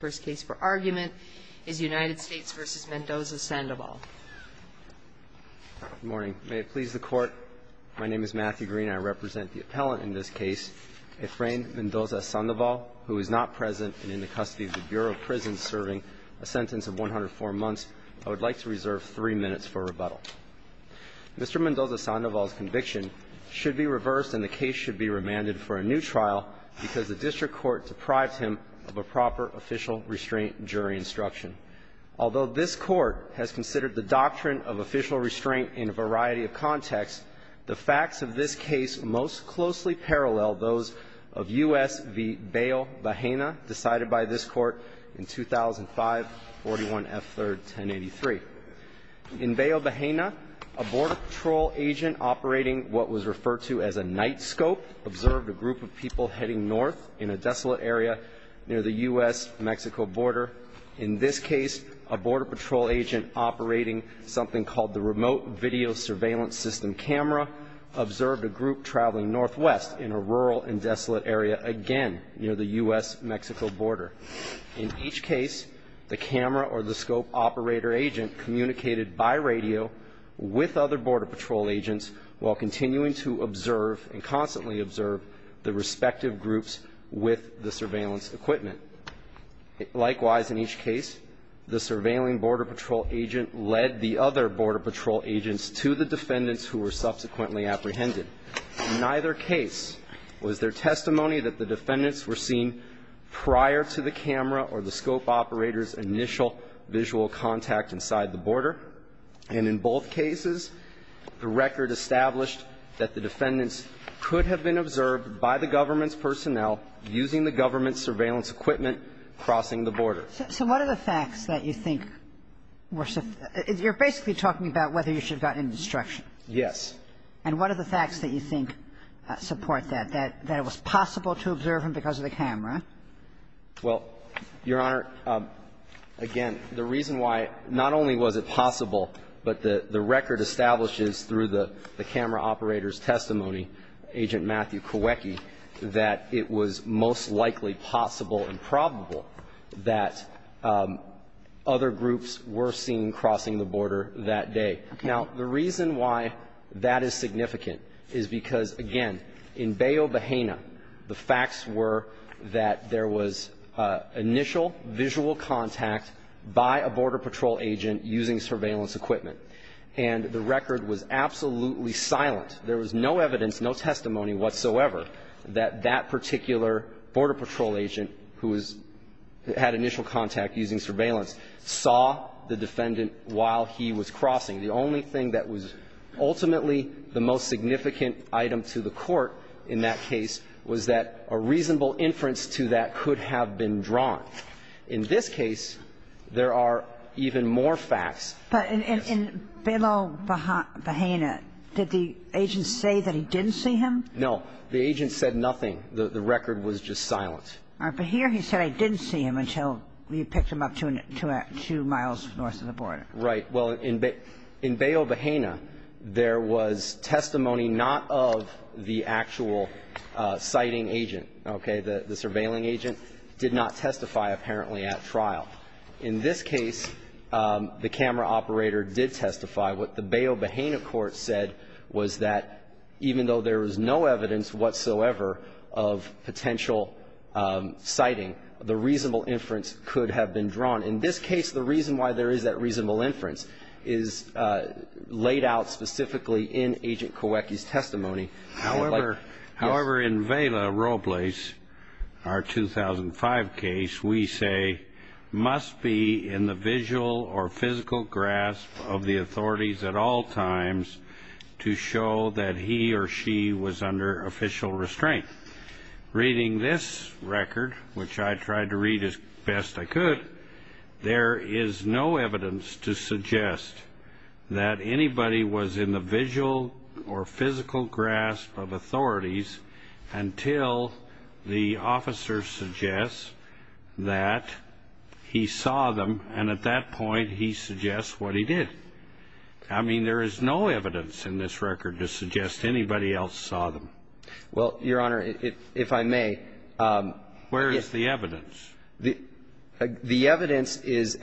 Good morning. May it please the Court, my name is Matthew Green. I represent the appellant in this case, Efrain Mendoza-Sandoval, who is not present and in the custody of the Bureau of Prisons serving a sentence of 104 months. I would like to reserve three minutes for rebuttal. Mr. Mendoza-Sandoval's conviction should be reversed and the case should be remanded for a new trial because the district court deprived him of a proper official restraint jury instruction. Although this Court has considered the doctrine of official restraint in a variety of contexts, the facts of this case most closely parallel those of U.S. v. Bayo Bahena decided by this Court in 2005, 41 F. 3rd, 1083. In Bayo Bahena, a Border Patrol agent operating what was referred to as a night scope observed a group of people heading north in a desolate area near the U.S.-Mexico border. In this case, a Border Patrol agent operating something called the remote video surveillance system camera observed a group traveling northwest in a rural and desolate area again near the U.S.-Mexico border. In each case, the camera or the scope operator agent communicated by radio with other Border Patrol agents while continuing to observe and constantly observe the respective groups with the surveillance equipment. Likewise, in each case, the surveilling Border Patrol agent led the other Border Patrol agents to the defendants who were subsequently apprehended. In neither case was there testimony that the defendants were seen prior to the camera or the scope operator's initial visual contact inside the border, and in both cases, the record established that the defendants could have been observed by the government's personnel using the government's surveillance equipment crossing the border. So what are the facts that you think were so – you're basically talking about whether you should have gotten an instruction. Yes. And what are the facts that you think support that, that it was possible to observe them because of the camera? Well, Your Honor, again, the reason why not only was it possible, but the record establishes through the camera operator's testimony, Agent Matthew Kowecki, that it was most likely possible and probable that other groups were seen crossing the border that day. Okay. Now, the reason why that is significant is because, again, in Bayo Bahena, the facts were that there was initial visual contact by a Border Patrol agent using surveillance equipment. And the record was absolutely silent. There was no evidence, no testimony whatsoever that that particular Border Patrol agent who was – had initial contact using surveillance saw the defendant while he was crossing. The only thing that was ultimately the most significant item to the Court in that case was that a reasonable inference to that could have been drawn. In this case, there are even more facts. But in – in Bayo Bahena, did the agent say that he didn't see him? No. The agent said nothing. The record was just silent. All right. But here he said, I didn't see him until you picked him up to a – to a – two miles north of the border. Right. Well, in – in Bayo Bahena, there was testimony not of the actual sighting agent. Okay. The – the surveilling agent did not testify apparently at trial. In this case, the camera operator did testify. What the Bayo Bahena court said was that even though there was no evidence whatsoever of potential sighting, the reasonable inference could have been drawn. In this case, the reason why there is that reasonable inference is laid out specifically in Agent Kawecki's testimony. However – however, in Vela Robles, our 2005 case, we say, must be in the visual or physical grasp of the authorities at all times to show that he or she was under official restraint. Reading this record, which I tried to read as best I could, there is no evidence to suggest that anybody was in the visual or physical grasp of authorities until the officer suggests that he saw them, and at that point, he suggests what he did. I mean, there is no evidence in this record to suggest anybody else saw them. Well, Your Honor, if I may. Where is the evidence? The evidence is,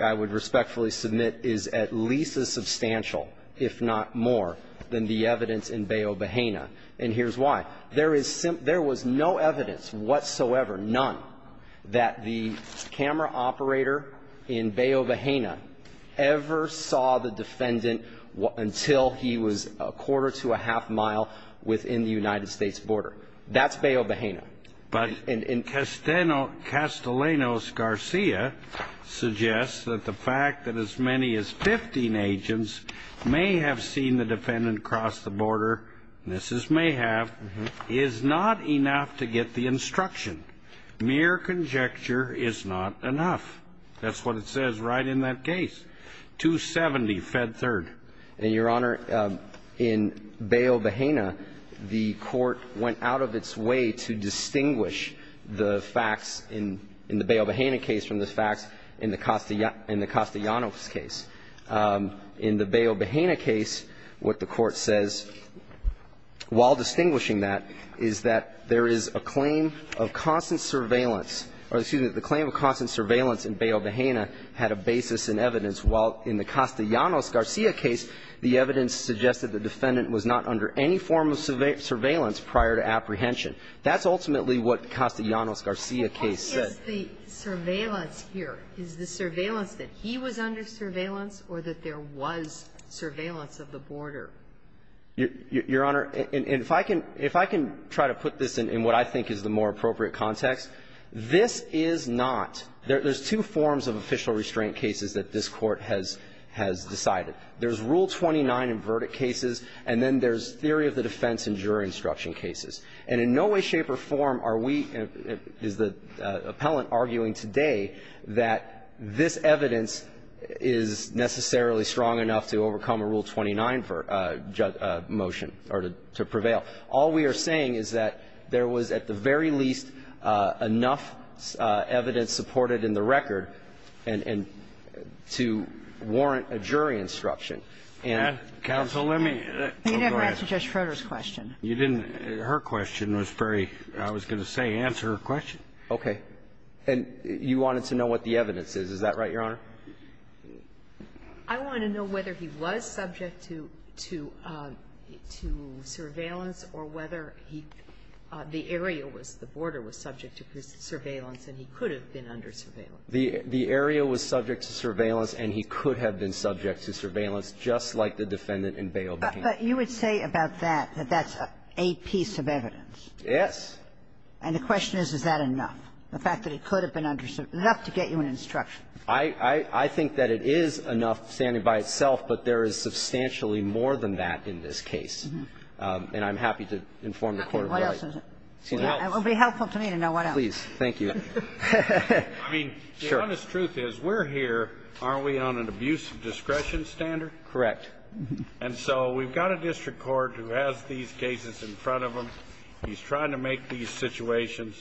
I would respectfully submit, is at least as substantial, if not more, than the evidence in Bayo Bahena. And here's why. There is – there was no evidence whatsoever, none, that the camera operator in Bayo Bahena ever saw the defendant until he was a quarter to a half mile within the United States border. That's Bayo Bahena. But Castellanos-Garcia suggests that the fact that as many as 15 agents may have seen the defendant cross the border, and this is may have, is not enough to get the instruction. Mere conjecture is not enough. That's what it says right in that case. 270, Fed Third. And, Your Honor, in Bayo Bahena, the Court went out of its way to distinguish the facts in the Bayo Bahena case from the facts in the Castellanos case. In the Bayo Bahena case, what the Court says, while distinguishing that, is that there is a claim of constant surveillance or, excuse me, the claim of constant In the Castellanos-Garcia case, the evidence suggested the defendant was not under any form of surveillance prior to apprehension. That's ultimately what the Castellanos-Garcia case said. What is the surveillance here? Is the surveillance that he was under surveillance or that there was surveillance of the border? Your Honor, if I can try to put this in what I think is the more appropriate context, this is not. There's two forms of official restraint cases that this Court has decided. There's Rule 29 in verdict cases, and then there's theory of the defense in jury instruction cases. And in no way, shape, or form are we, is the appellant arguing today that this evidence is necessarily strong enough to overcome a Rule 29 motion or to prevail. All we are saying is that there was, at the very least, enough evidence supported in the record and to warrant a jury instruction. And counsel, let me go ahead. Kagan. You didn't answer Judge Schroeder's question. You didn't. Her question was very, I was going to say, answer her question. Okay. And you wanted to know what the evidence is. Is that right, Your Honor? I want to know whether he was subject to surveillance or whether he, the area was, the border was subject to surveillance and he could have been under surveillance. The area was subject to surveillance and he could have been subject to surveillance, just like the defendant in bail became. But you would say about that that that's a piece of evidence. Yes. And the question is, is that enough? The fact that he could have been under, enough to get you an instruction. I think that it is enough standing by itself, but there is substantially more than that in this case. And I'm happy to inform the court of that. Okay. What else is it? It will be helpful to me to know what else. Please. Thank you. I mean, the honest truth is, we're here, aren't we, on an abuse of discretion standard? Correct. And so we've got a district court who has these cases in front of him. He's trying to make these situations.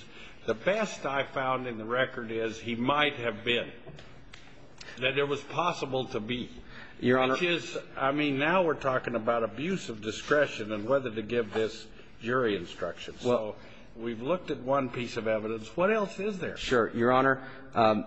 The best I found in the record is he might have been. That it was possible to be. Your Honor. Which is, I mean, now we're talking about abuse of discretion and whether to give this jury instruction. So we've looked at one piece of evidence. What else is there? Sure. Your Honor,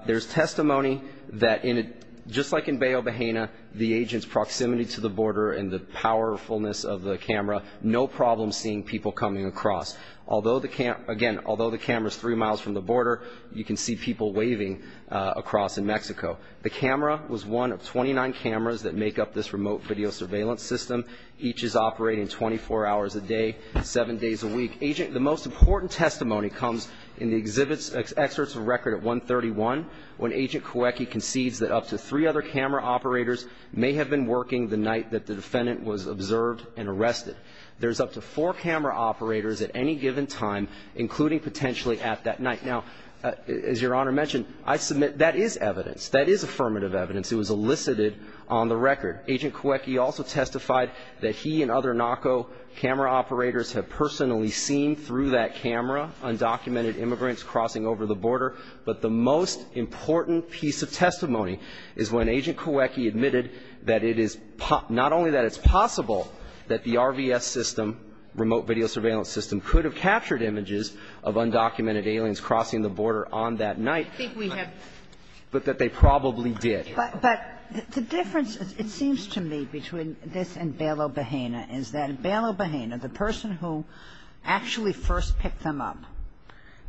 there's testimony that in a, just like in Bayo Bahena, the agent's proximity to the border and the powerfulness of the camera, no problem seeing people coming across. Although the camera, again, although the camera's three miles from the border, you can see people waving across in Mexico. The camera was one of 29 cameras that make up this remote video surveillance system. Each is operating 24 hours a day, seven days a week. Agent, the most important testimony comes in the exhibits, excerpts of record at 131, when Agent Kawecki concedes that up to three other camera operators may have been working the night that the defendant was observed and arrested. There's up to four camera operators at any given time, including potentially at that night. Now, as Your Honor mentioned, I submit that is evidence, that is affirmative evidence. It was elicited on the record. Agent Kawecki also testified that he and other NACO camera operators have personally seen through that camera undocumented immigrants crossing over the border. But the most important piece of testimony is when Agent Kawecki admitted that it is not only that it's possible that the RVS system, remote video surveillance system, could have captured images of undocumented aliens crossing the border on that night. But that they probably did. But the difference, it seems to me, between this and Bailo-Bahena is that Bailo-Bahena, the person who actually first picked them up,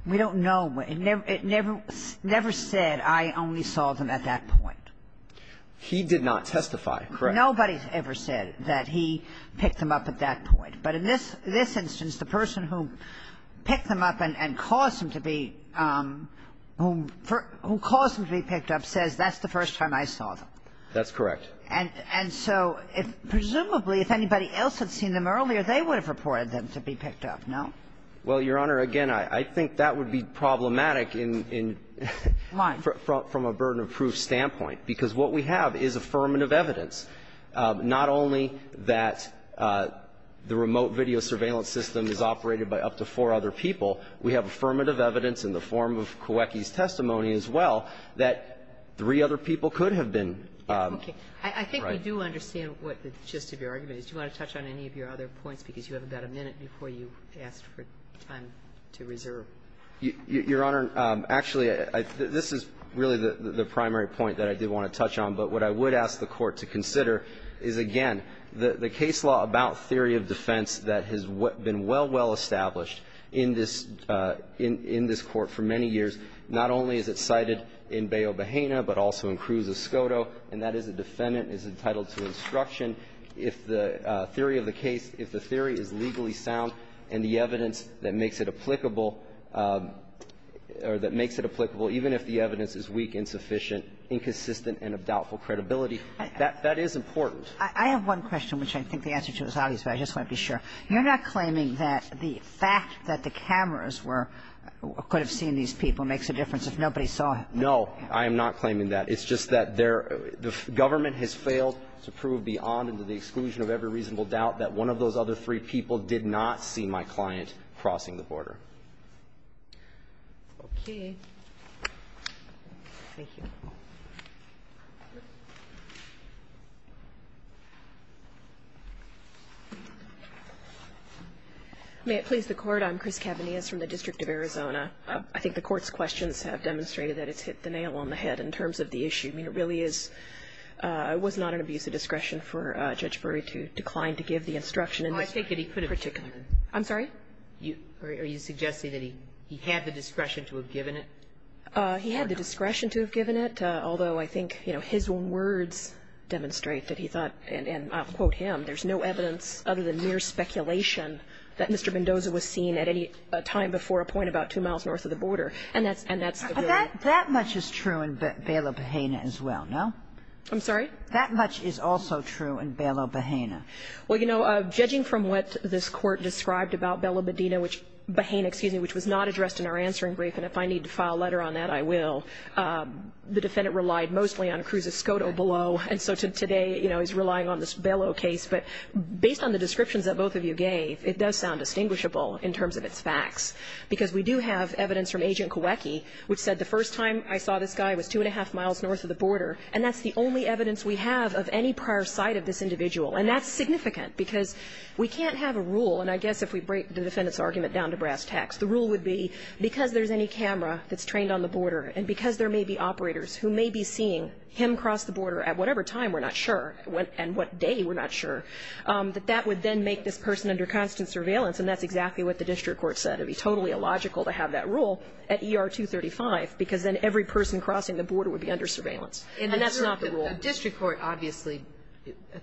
we don't know. It never said, I only saw them at that point. He did not testify. Correct. Nobody ever said that he picked them up at that point. But in this instance, the person who picked them up and caused them to be – who caused them to be picked up says that's the first time I saw them. That's correct. And so if – presumably, if anybody else had seen them earlier, they would have reported them to be picked up, no? Well, Your Honor, again, I think that would be problematic in – in – Why? from a burden of proof standpoint. Because what we have is affirmative evidence, not only that the remote video surveillance system is operated by up to four other people. We have affirmative evidence in the form of Kowiecki's testimony as well that three other people could have been – Okay. Right. I think we do understand what the gist of your argument is. Do you want to touch on any of your other points? Because you have about a minute before you asked for time to reserve. Your Honor, actually, I – this is really the primary point that I did want to touch on. But what I would ask the Court to consider is, again, the case law about theory of defense that has been well, well established in this – in this Court for many years, not only is it cited in Baio-Bahena, but also in Cruz-Escoto, and that is a defendant is entitled to instruction if the theory of the case – if the theory is legally sound and the evidence that makes it applicable – or that makes it applicable even if the evidence is weak, insufficient, inconsistent, and of doubtful credibility. That – that is important. I have one question, which I think the answer to is obvious, but I just want to be sure. You're not claiming that the fact that the cameras were – could have seen these people makes a difference if nobody saw it? No. I am not claiming that. It's just that there – the government has failed to prove beyond and to the exclusion of every reasonable doubt that one of those other three people did not see my client crossing the border. Okay. Thank you. May it please the Court. I'm Chris Cavanias from the District of Arizona. I think the Court's questions have demonstrated that it's hit the nail on the head in terms of the issue. I mean, it really is – it was not an abuse of discretion for Judge Berry to decline to give the instruction in this particular. Oh, I take it he could have given it. I'm sorry? Are you suggesting that he – he had the discretion to have given it? He had the discretion to have given it, although I think, you know, his own words demonstrate that he thought – and I'll quote him – there's no evidence other than mere speculation that Mr. Mendoza was seen at any time before a point about two miles north of the border. And that's – and that's the reality. That much is true in Bello-Bahena as well, no? I'm sorry? That much is also true in Bello-Bahena. Well, you know, judging from what this Court described about Bello-Bahena, which – Bahena, excuse me – which was not addressed in our answering brief, and if I need to file a letter on that, I will, the defendant relied mostly on Cruz Escoto below. And so today, you know, he's relying on this Bello case. But based on the descriptions that both of you gave, it does sound distinguishable in terms of its facts. Because we do have evidence from Agent Kawecki, which said the first time I saw this guy was two and a half miles north of the border, and that's the only evidence we have of any prior sight of this individual. And that's significant, because we can't have a rule – and I guess if we break the defendant's argument down to brass tacks, the rule would be because there's any camera that's trained on the border, and because there may be operators who may be seeing him cross the border at whatever time, we're not sure, and what day, we're not sure, that that would then make this person under constant surveillance. And that's exactly what the district court said. It would be totally illogical to have that rule at ER-235, because then every person crossing the border would be under surveillance. And that's not the rule. Ginsburg. The district court obviously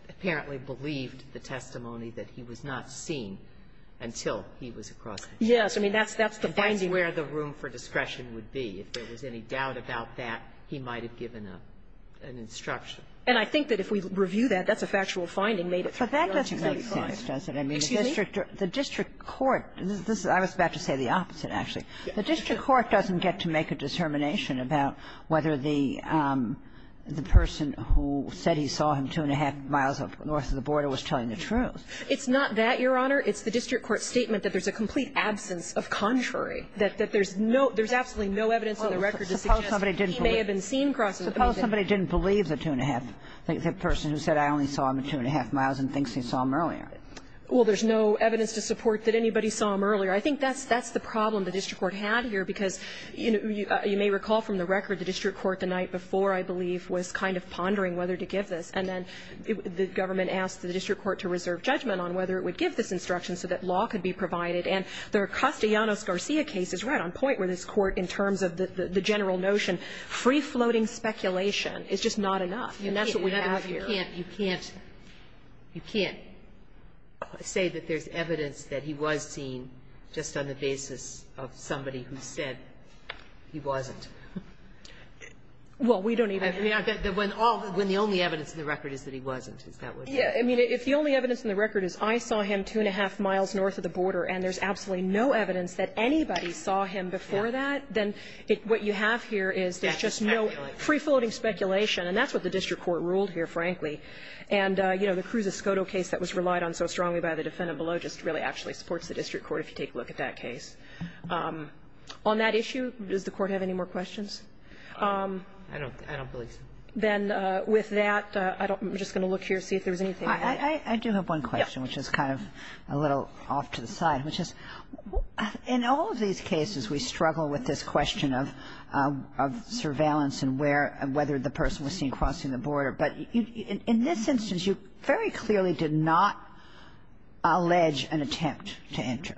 apparently believed the testimony that he was not seen until he was across the border. Yes. I mean, that's the finding. And that's where the room for discretion would be. If there was any doubt about that, he might have given an instruction. And I think that if we review that, that's a factual finding made at ER-235. But that doesn't make sense, does it? Excuse me? The district court, I was about to say the opposite, actually. The district court doesn't get to make a determination about whether the person who said he saw him two and a half miles north of the border was telling the truth. It's not that, Your Honor. It's the district court's statement that there's a complete absence of contrary, that there's no, there's absolutely no evidence on the record to suggest that he may have been seen crossing the border. Suppose somebody didn't believe the two and a half, the person who said I only saw him two and a half miles and thinks he saw him earlier. Well, there's no evidence to support that anybody saw him earlier. I think that's the problem the district court had here, because you may recall from the record the district court the night before, I believe, was kind of pondering whether to give this. And then the government asked the district court to reserve judgment on whether it would give this instruction so that law could be provided. And the Castellanos-Garcia case is right on point where this Court, in terms of the general notion, free-floating speculation is just not enough. And that's what we have here. Sotomayor, you can't, you can't, you can't say that there's evidence that he was seen just on the basis of somebody who said he wasn't. Well, we don't even have to. When all, when the only evidence in the record is that he wasn't, is that what you're saying? Yeah. I mean, if the only evidence in the record is I saw him two and a half miles north of the border and there's absolutely no evidence that anybody saw him before that, then what you have here is there's just no free-floating speculation. And that's what the district court ruled here, frankly. And, you know, the Cruz-Escoto case that was relied on so strongly by the defendant below just really actually supports the district court if you take a look at that case. On that issue, does the Court have any more questions? I don't, I don't believe so. Then with that, I don't, I'm just going to look here, see if there's anything I can add. I do have one question, which is kind of a little off to the side, which is in all of these cases we struggle with this question of surveillance and where, whether the person was seen crossing the border. But in this instance, you very clearly did not allege an attempt to enter.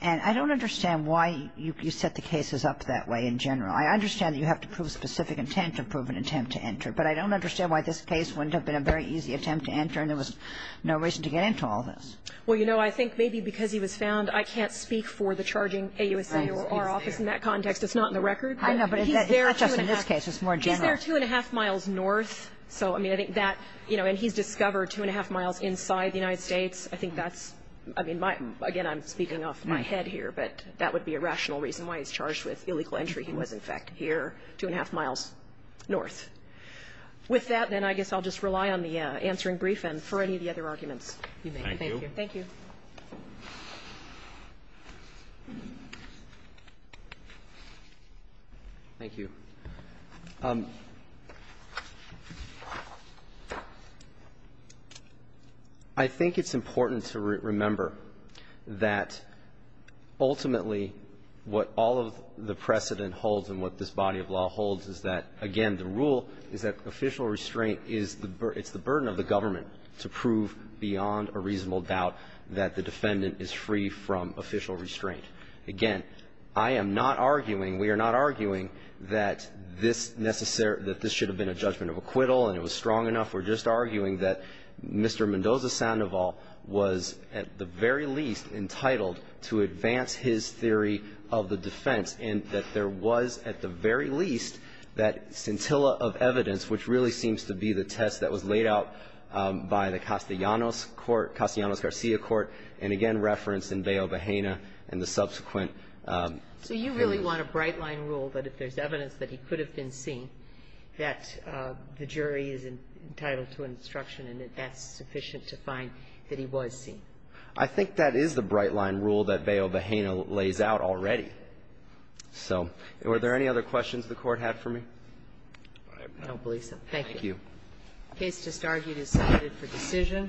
And I don't understand why you set the cases up that way in general. I understand that you have to prove specific intent to prove an attempt to enter, but I don't understand why this case went up in a very easy attempt to enter and there was no reason to get into all this. Well, you know, I think maybe because he was found, I can't speak for the charging AUSA or our office in that context. It's not in the record. I know, but it's not just in this case. It's more general. He was here two and a half miles north. So, I mean, I think that, you know, and he's discovered two and a half miles inside the United States. I think that's, I mean, my, again, I'm speaking off my head here, but that would be a rational reason why he's charged with illegal entry. He was, in fact, here two and a half miles north. With that, then I guess I'll just rely on the answering brief and for any of the other arguments you make. Thank you. Thank you. Thank you. I think it's important to remember that ultimately what all of the precedent holds and what this body of law holds is that, again, the rule is that official restraint is the burden of the government to prove beyond a reasonable doubt that the defendant is free from official restraint. Again, I am not arguing, we are not arguing that this should have been a judgment of acquittal and it was strong enough. We're just arguing that Mr. Mendoza Sandoval was, at the very least, entitled to advance his theory of the defense and that there was, at the very least, that scintilla of evidence, which really seems to be the test that was laid out by the Castellanos Court, Castellanos-Garcia Court, and, again, referenced in Bayo Vajena's subsequent case. So you really want a bright-line rule that if there's evidence that he could have been seen, that the jury is entitled to instruction and that that's sufficient to find that he was seen? I think that is the bright-line rule that Bayo Vajena lays out already. So were there any other questions the Court had for me? I don't believe so. Thank you. Thank you. The case just argued is submitted for decision.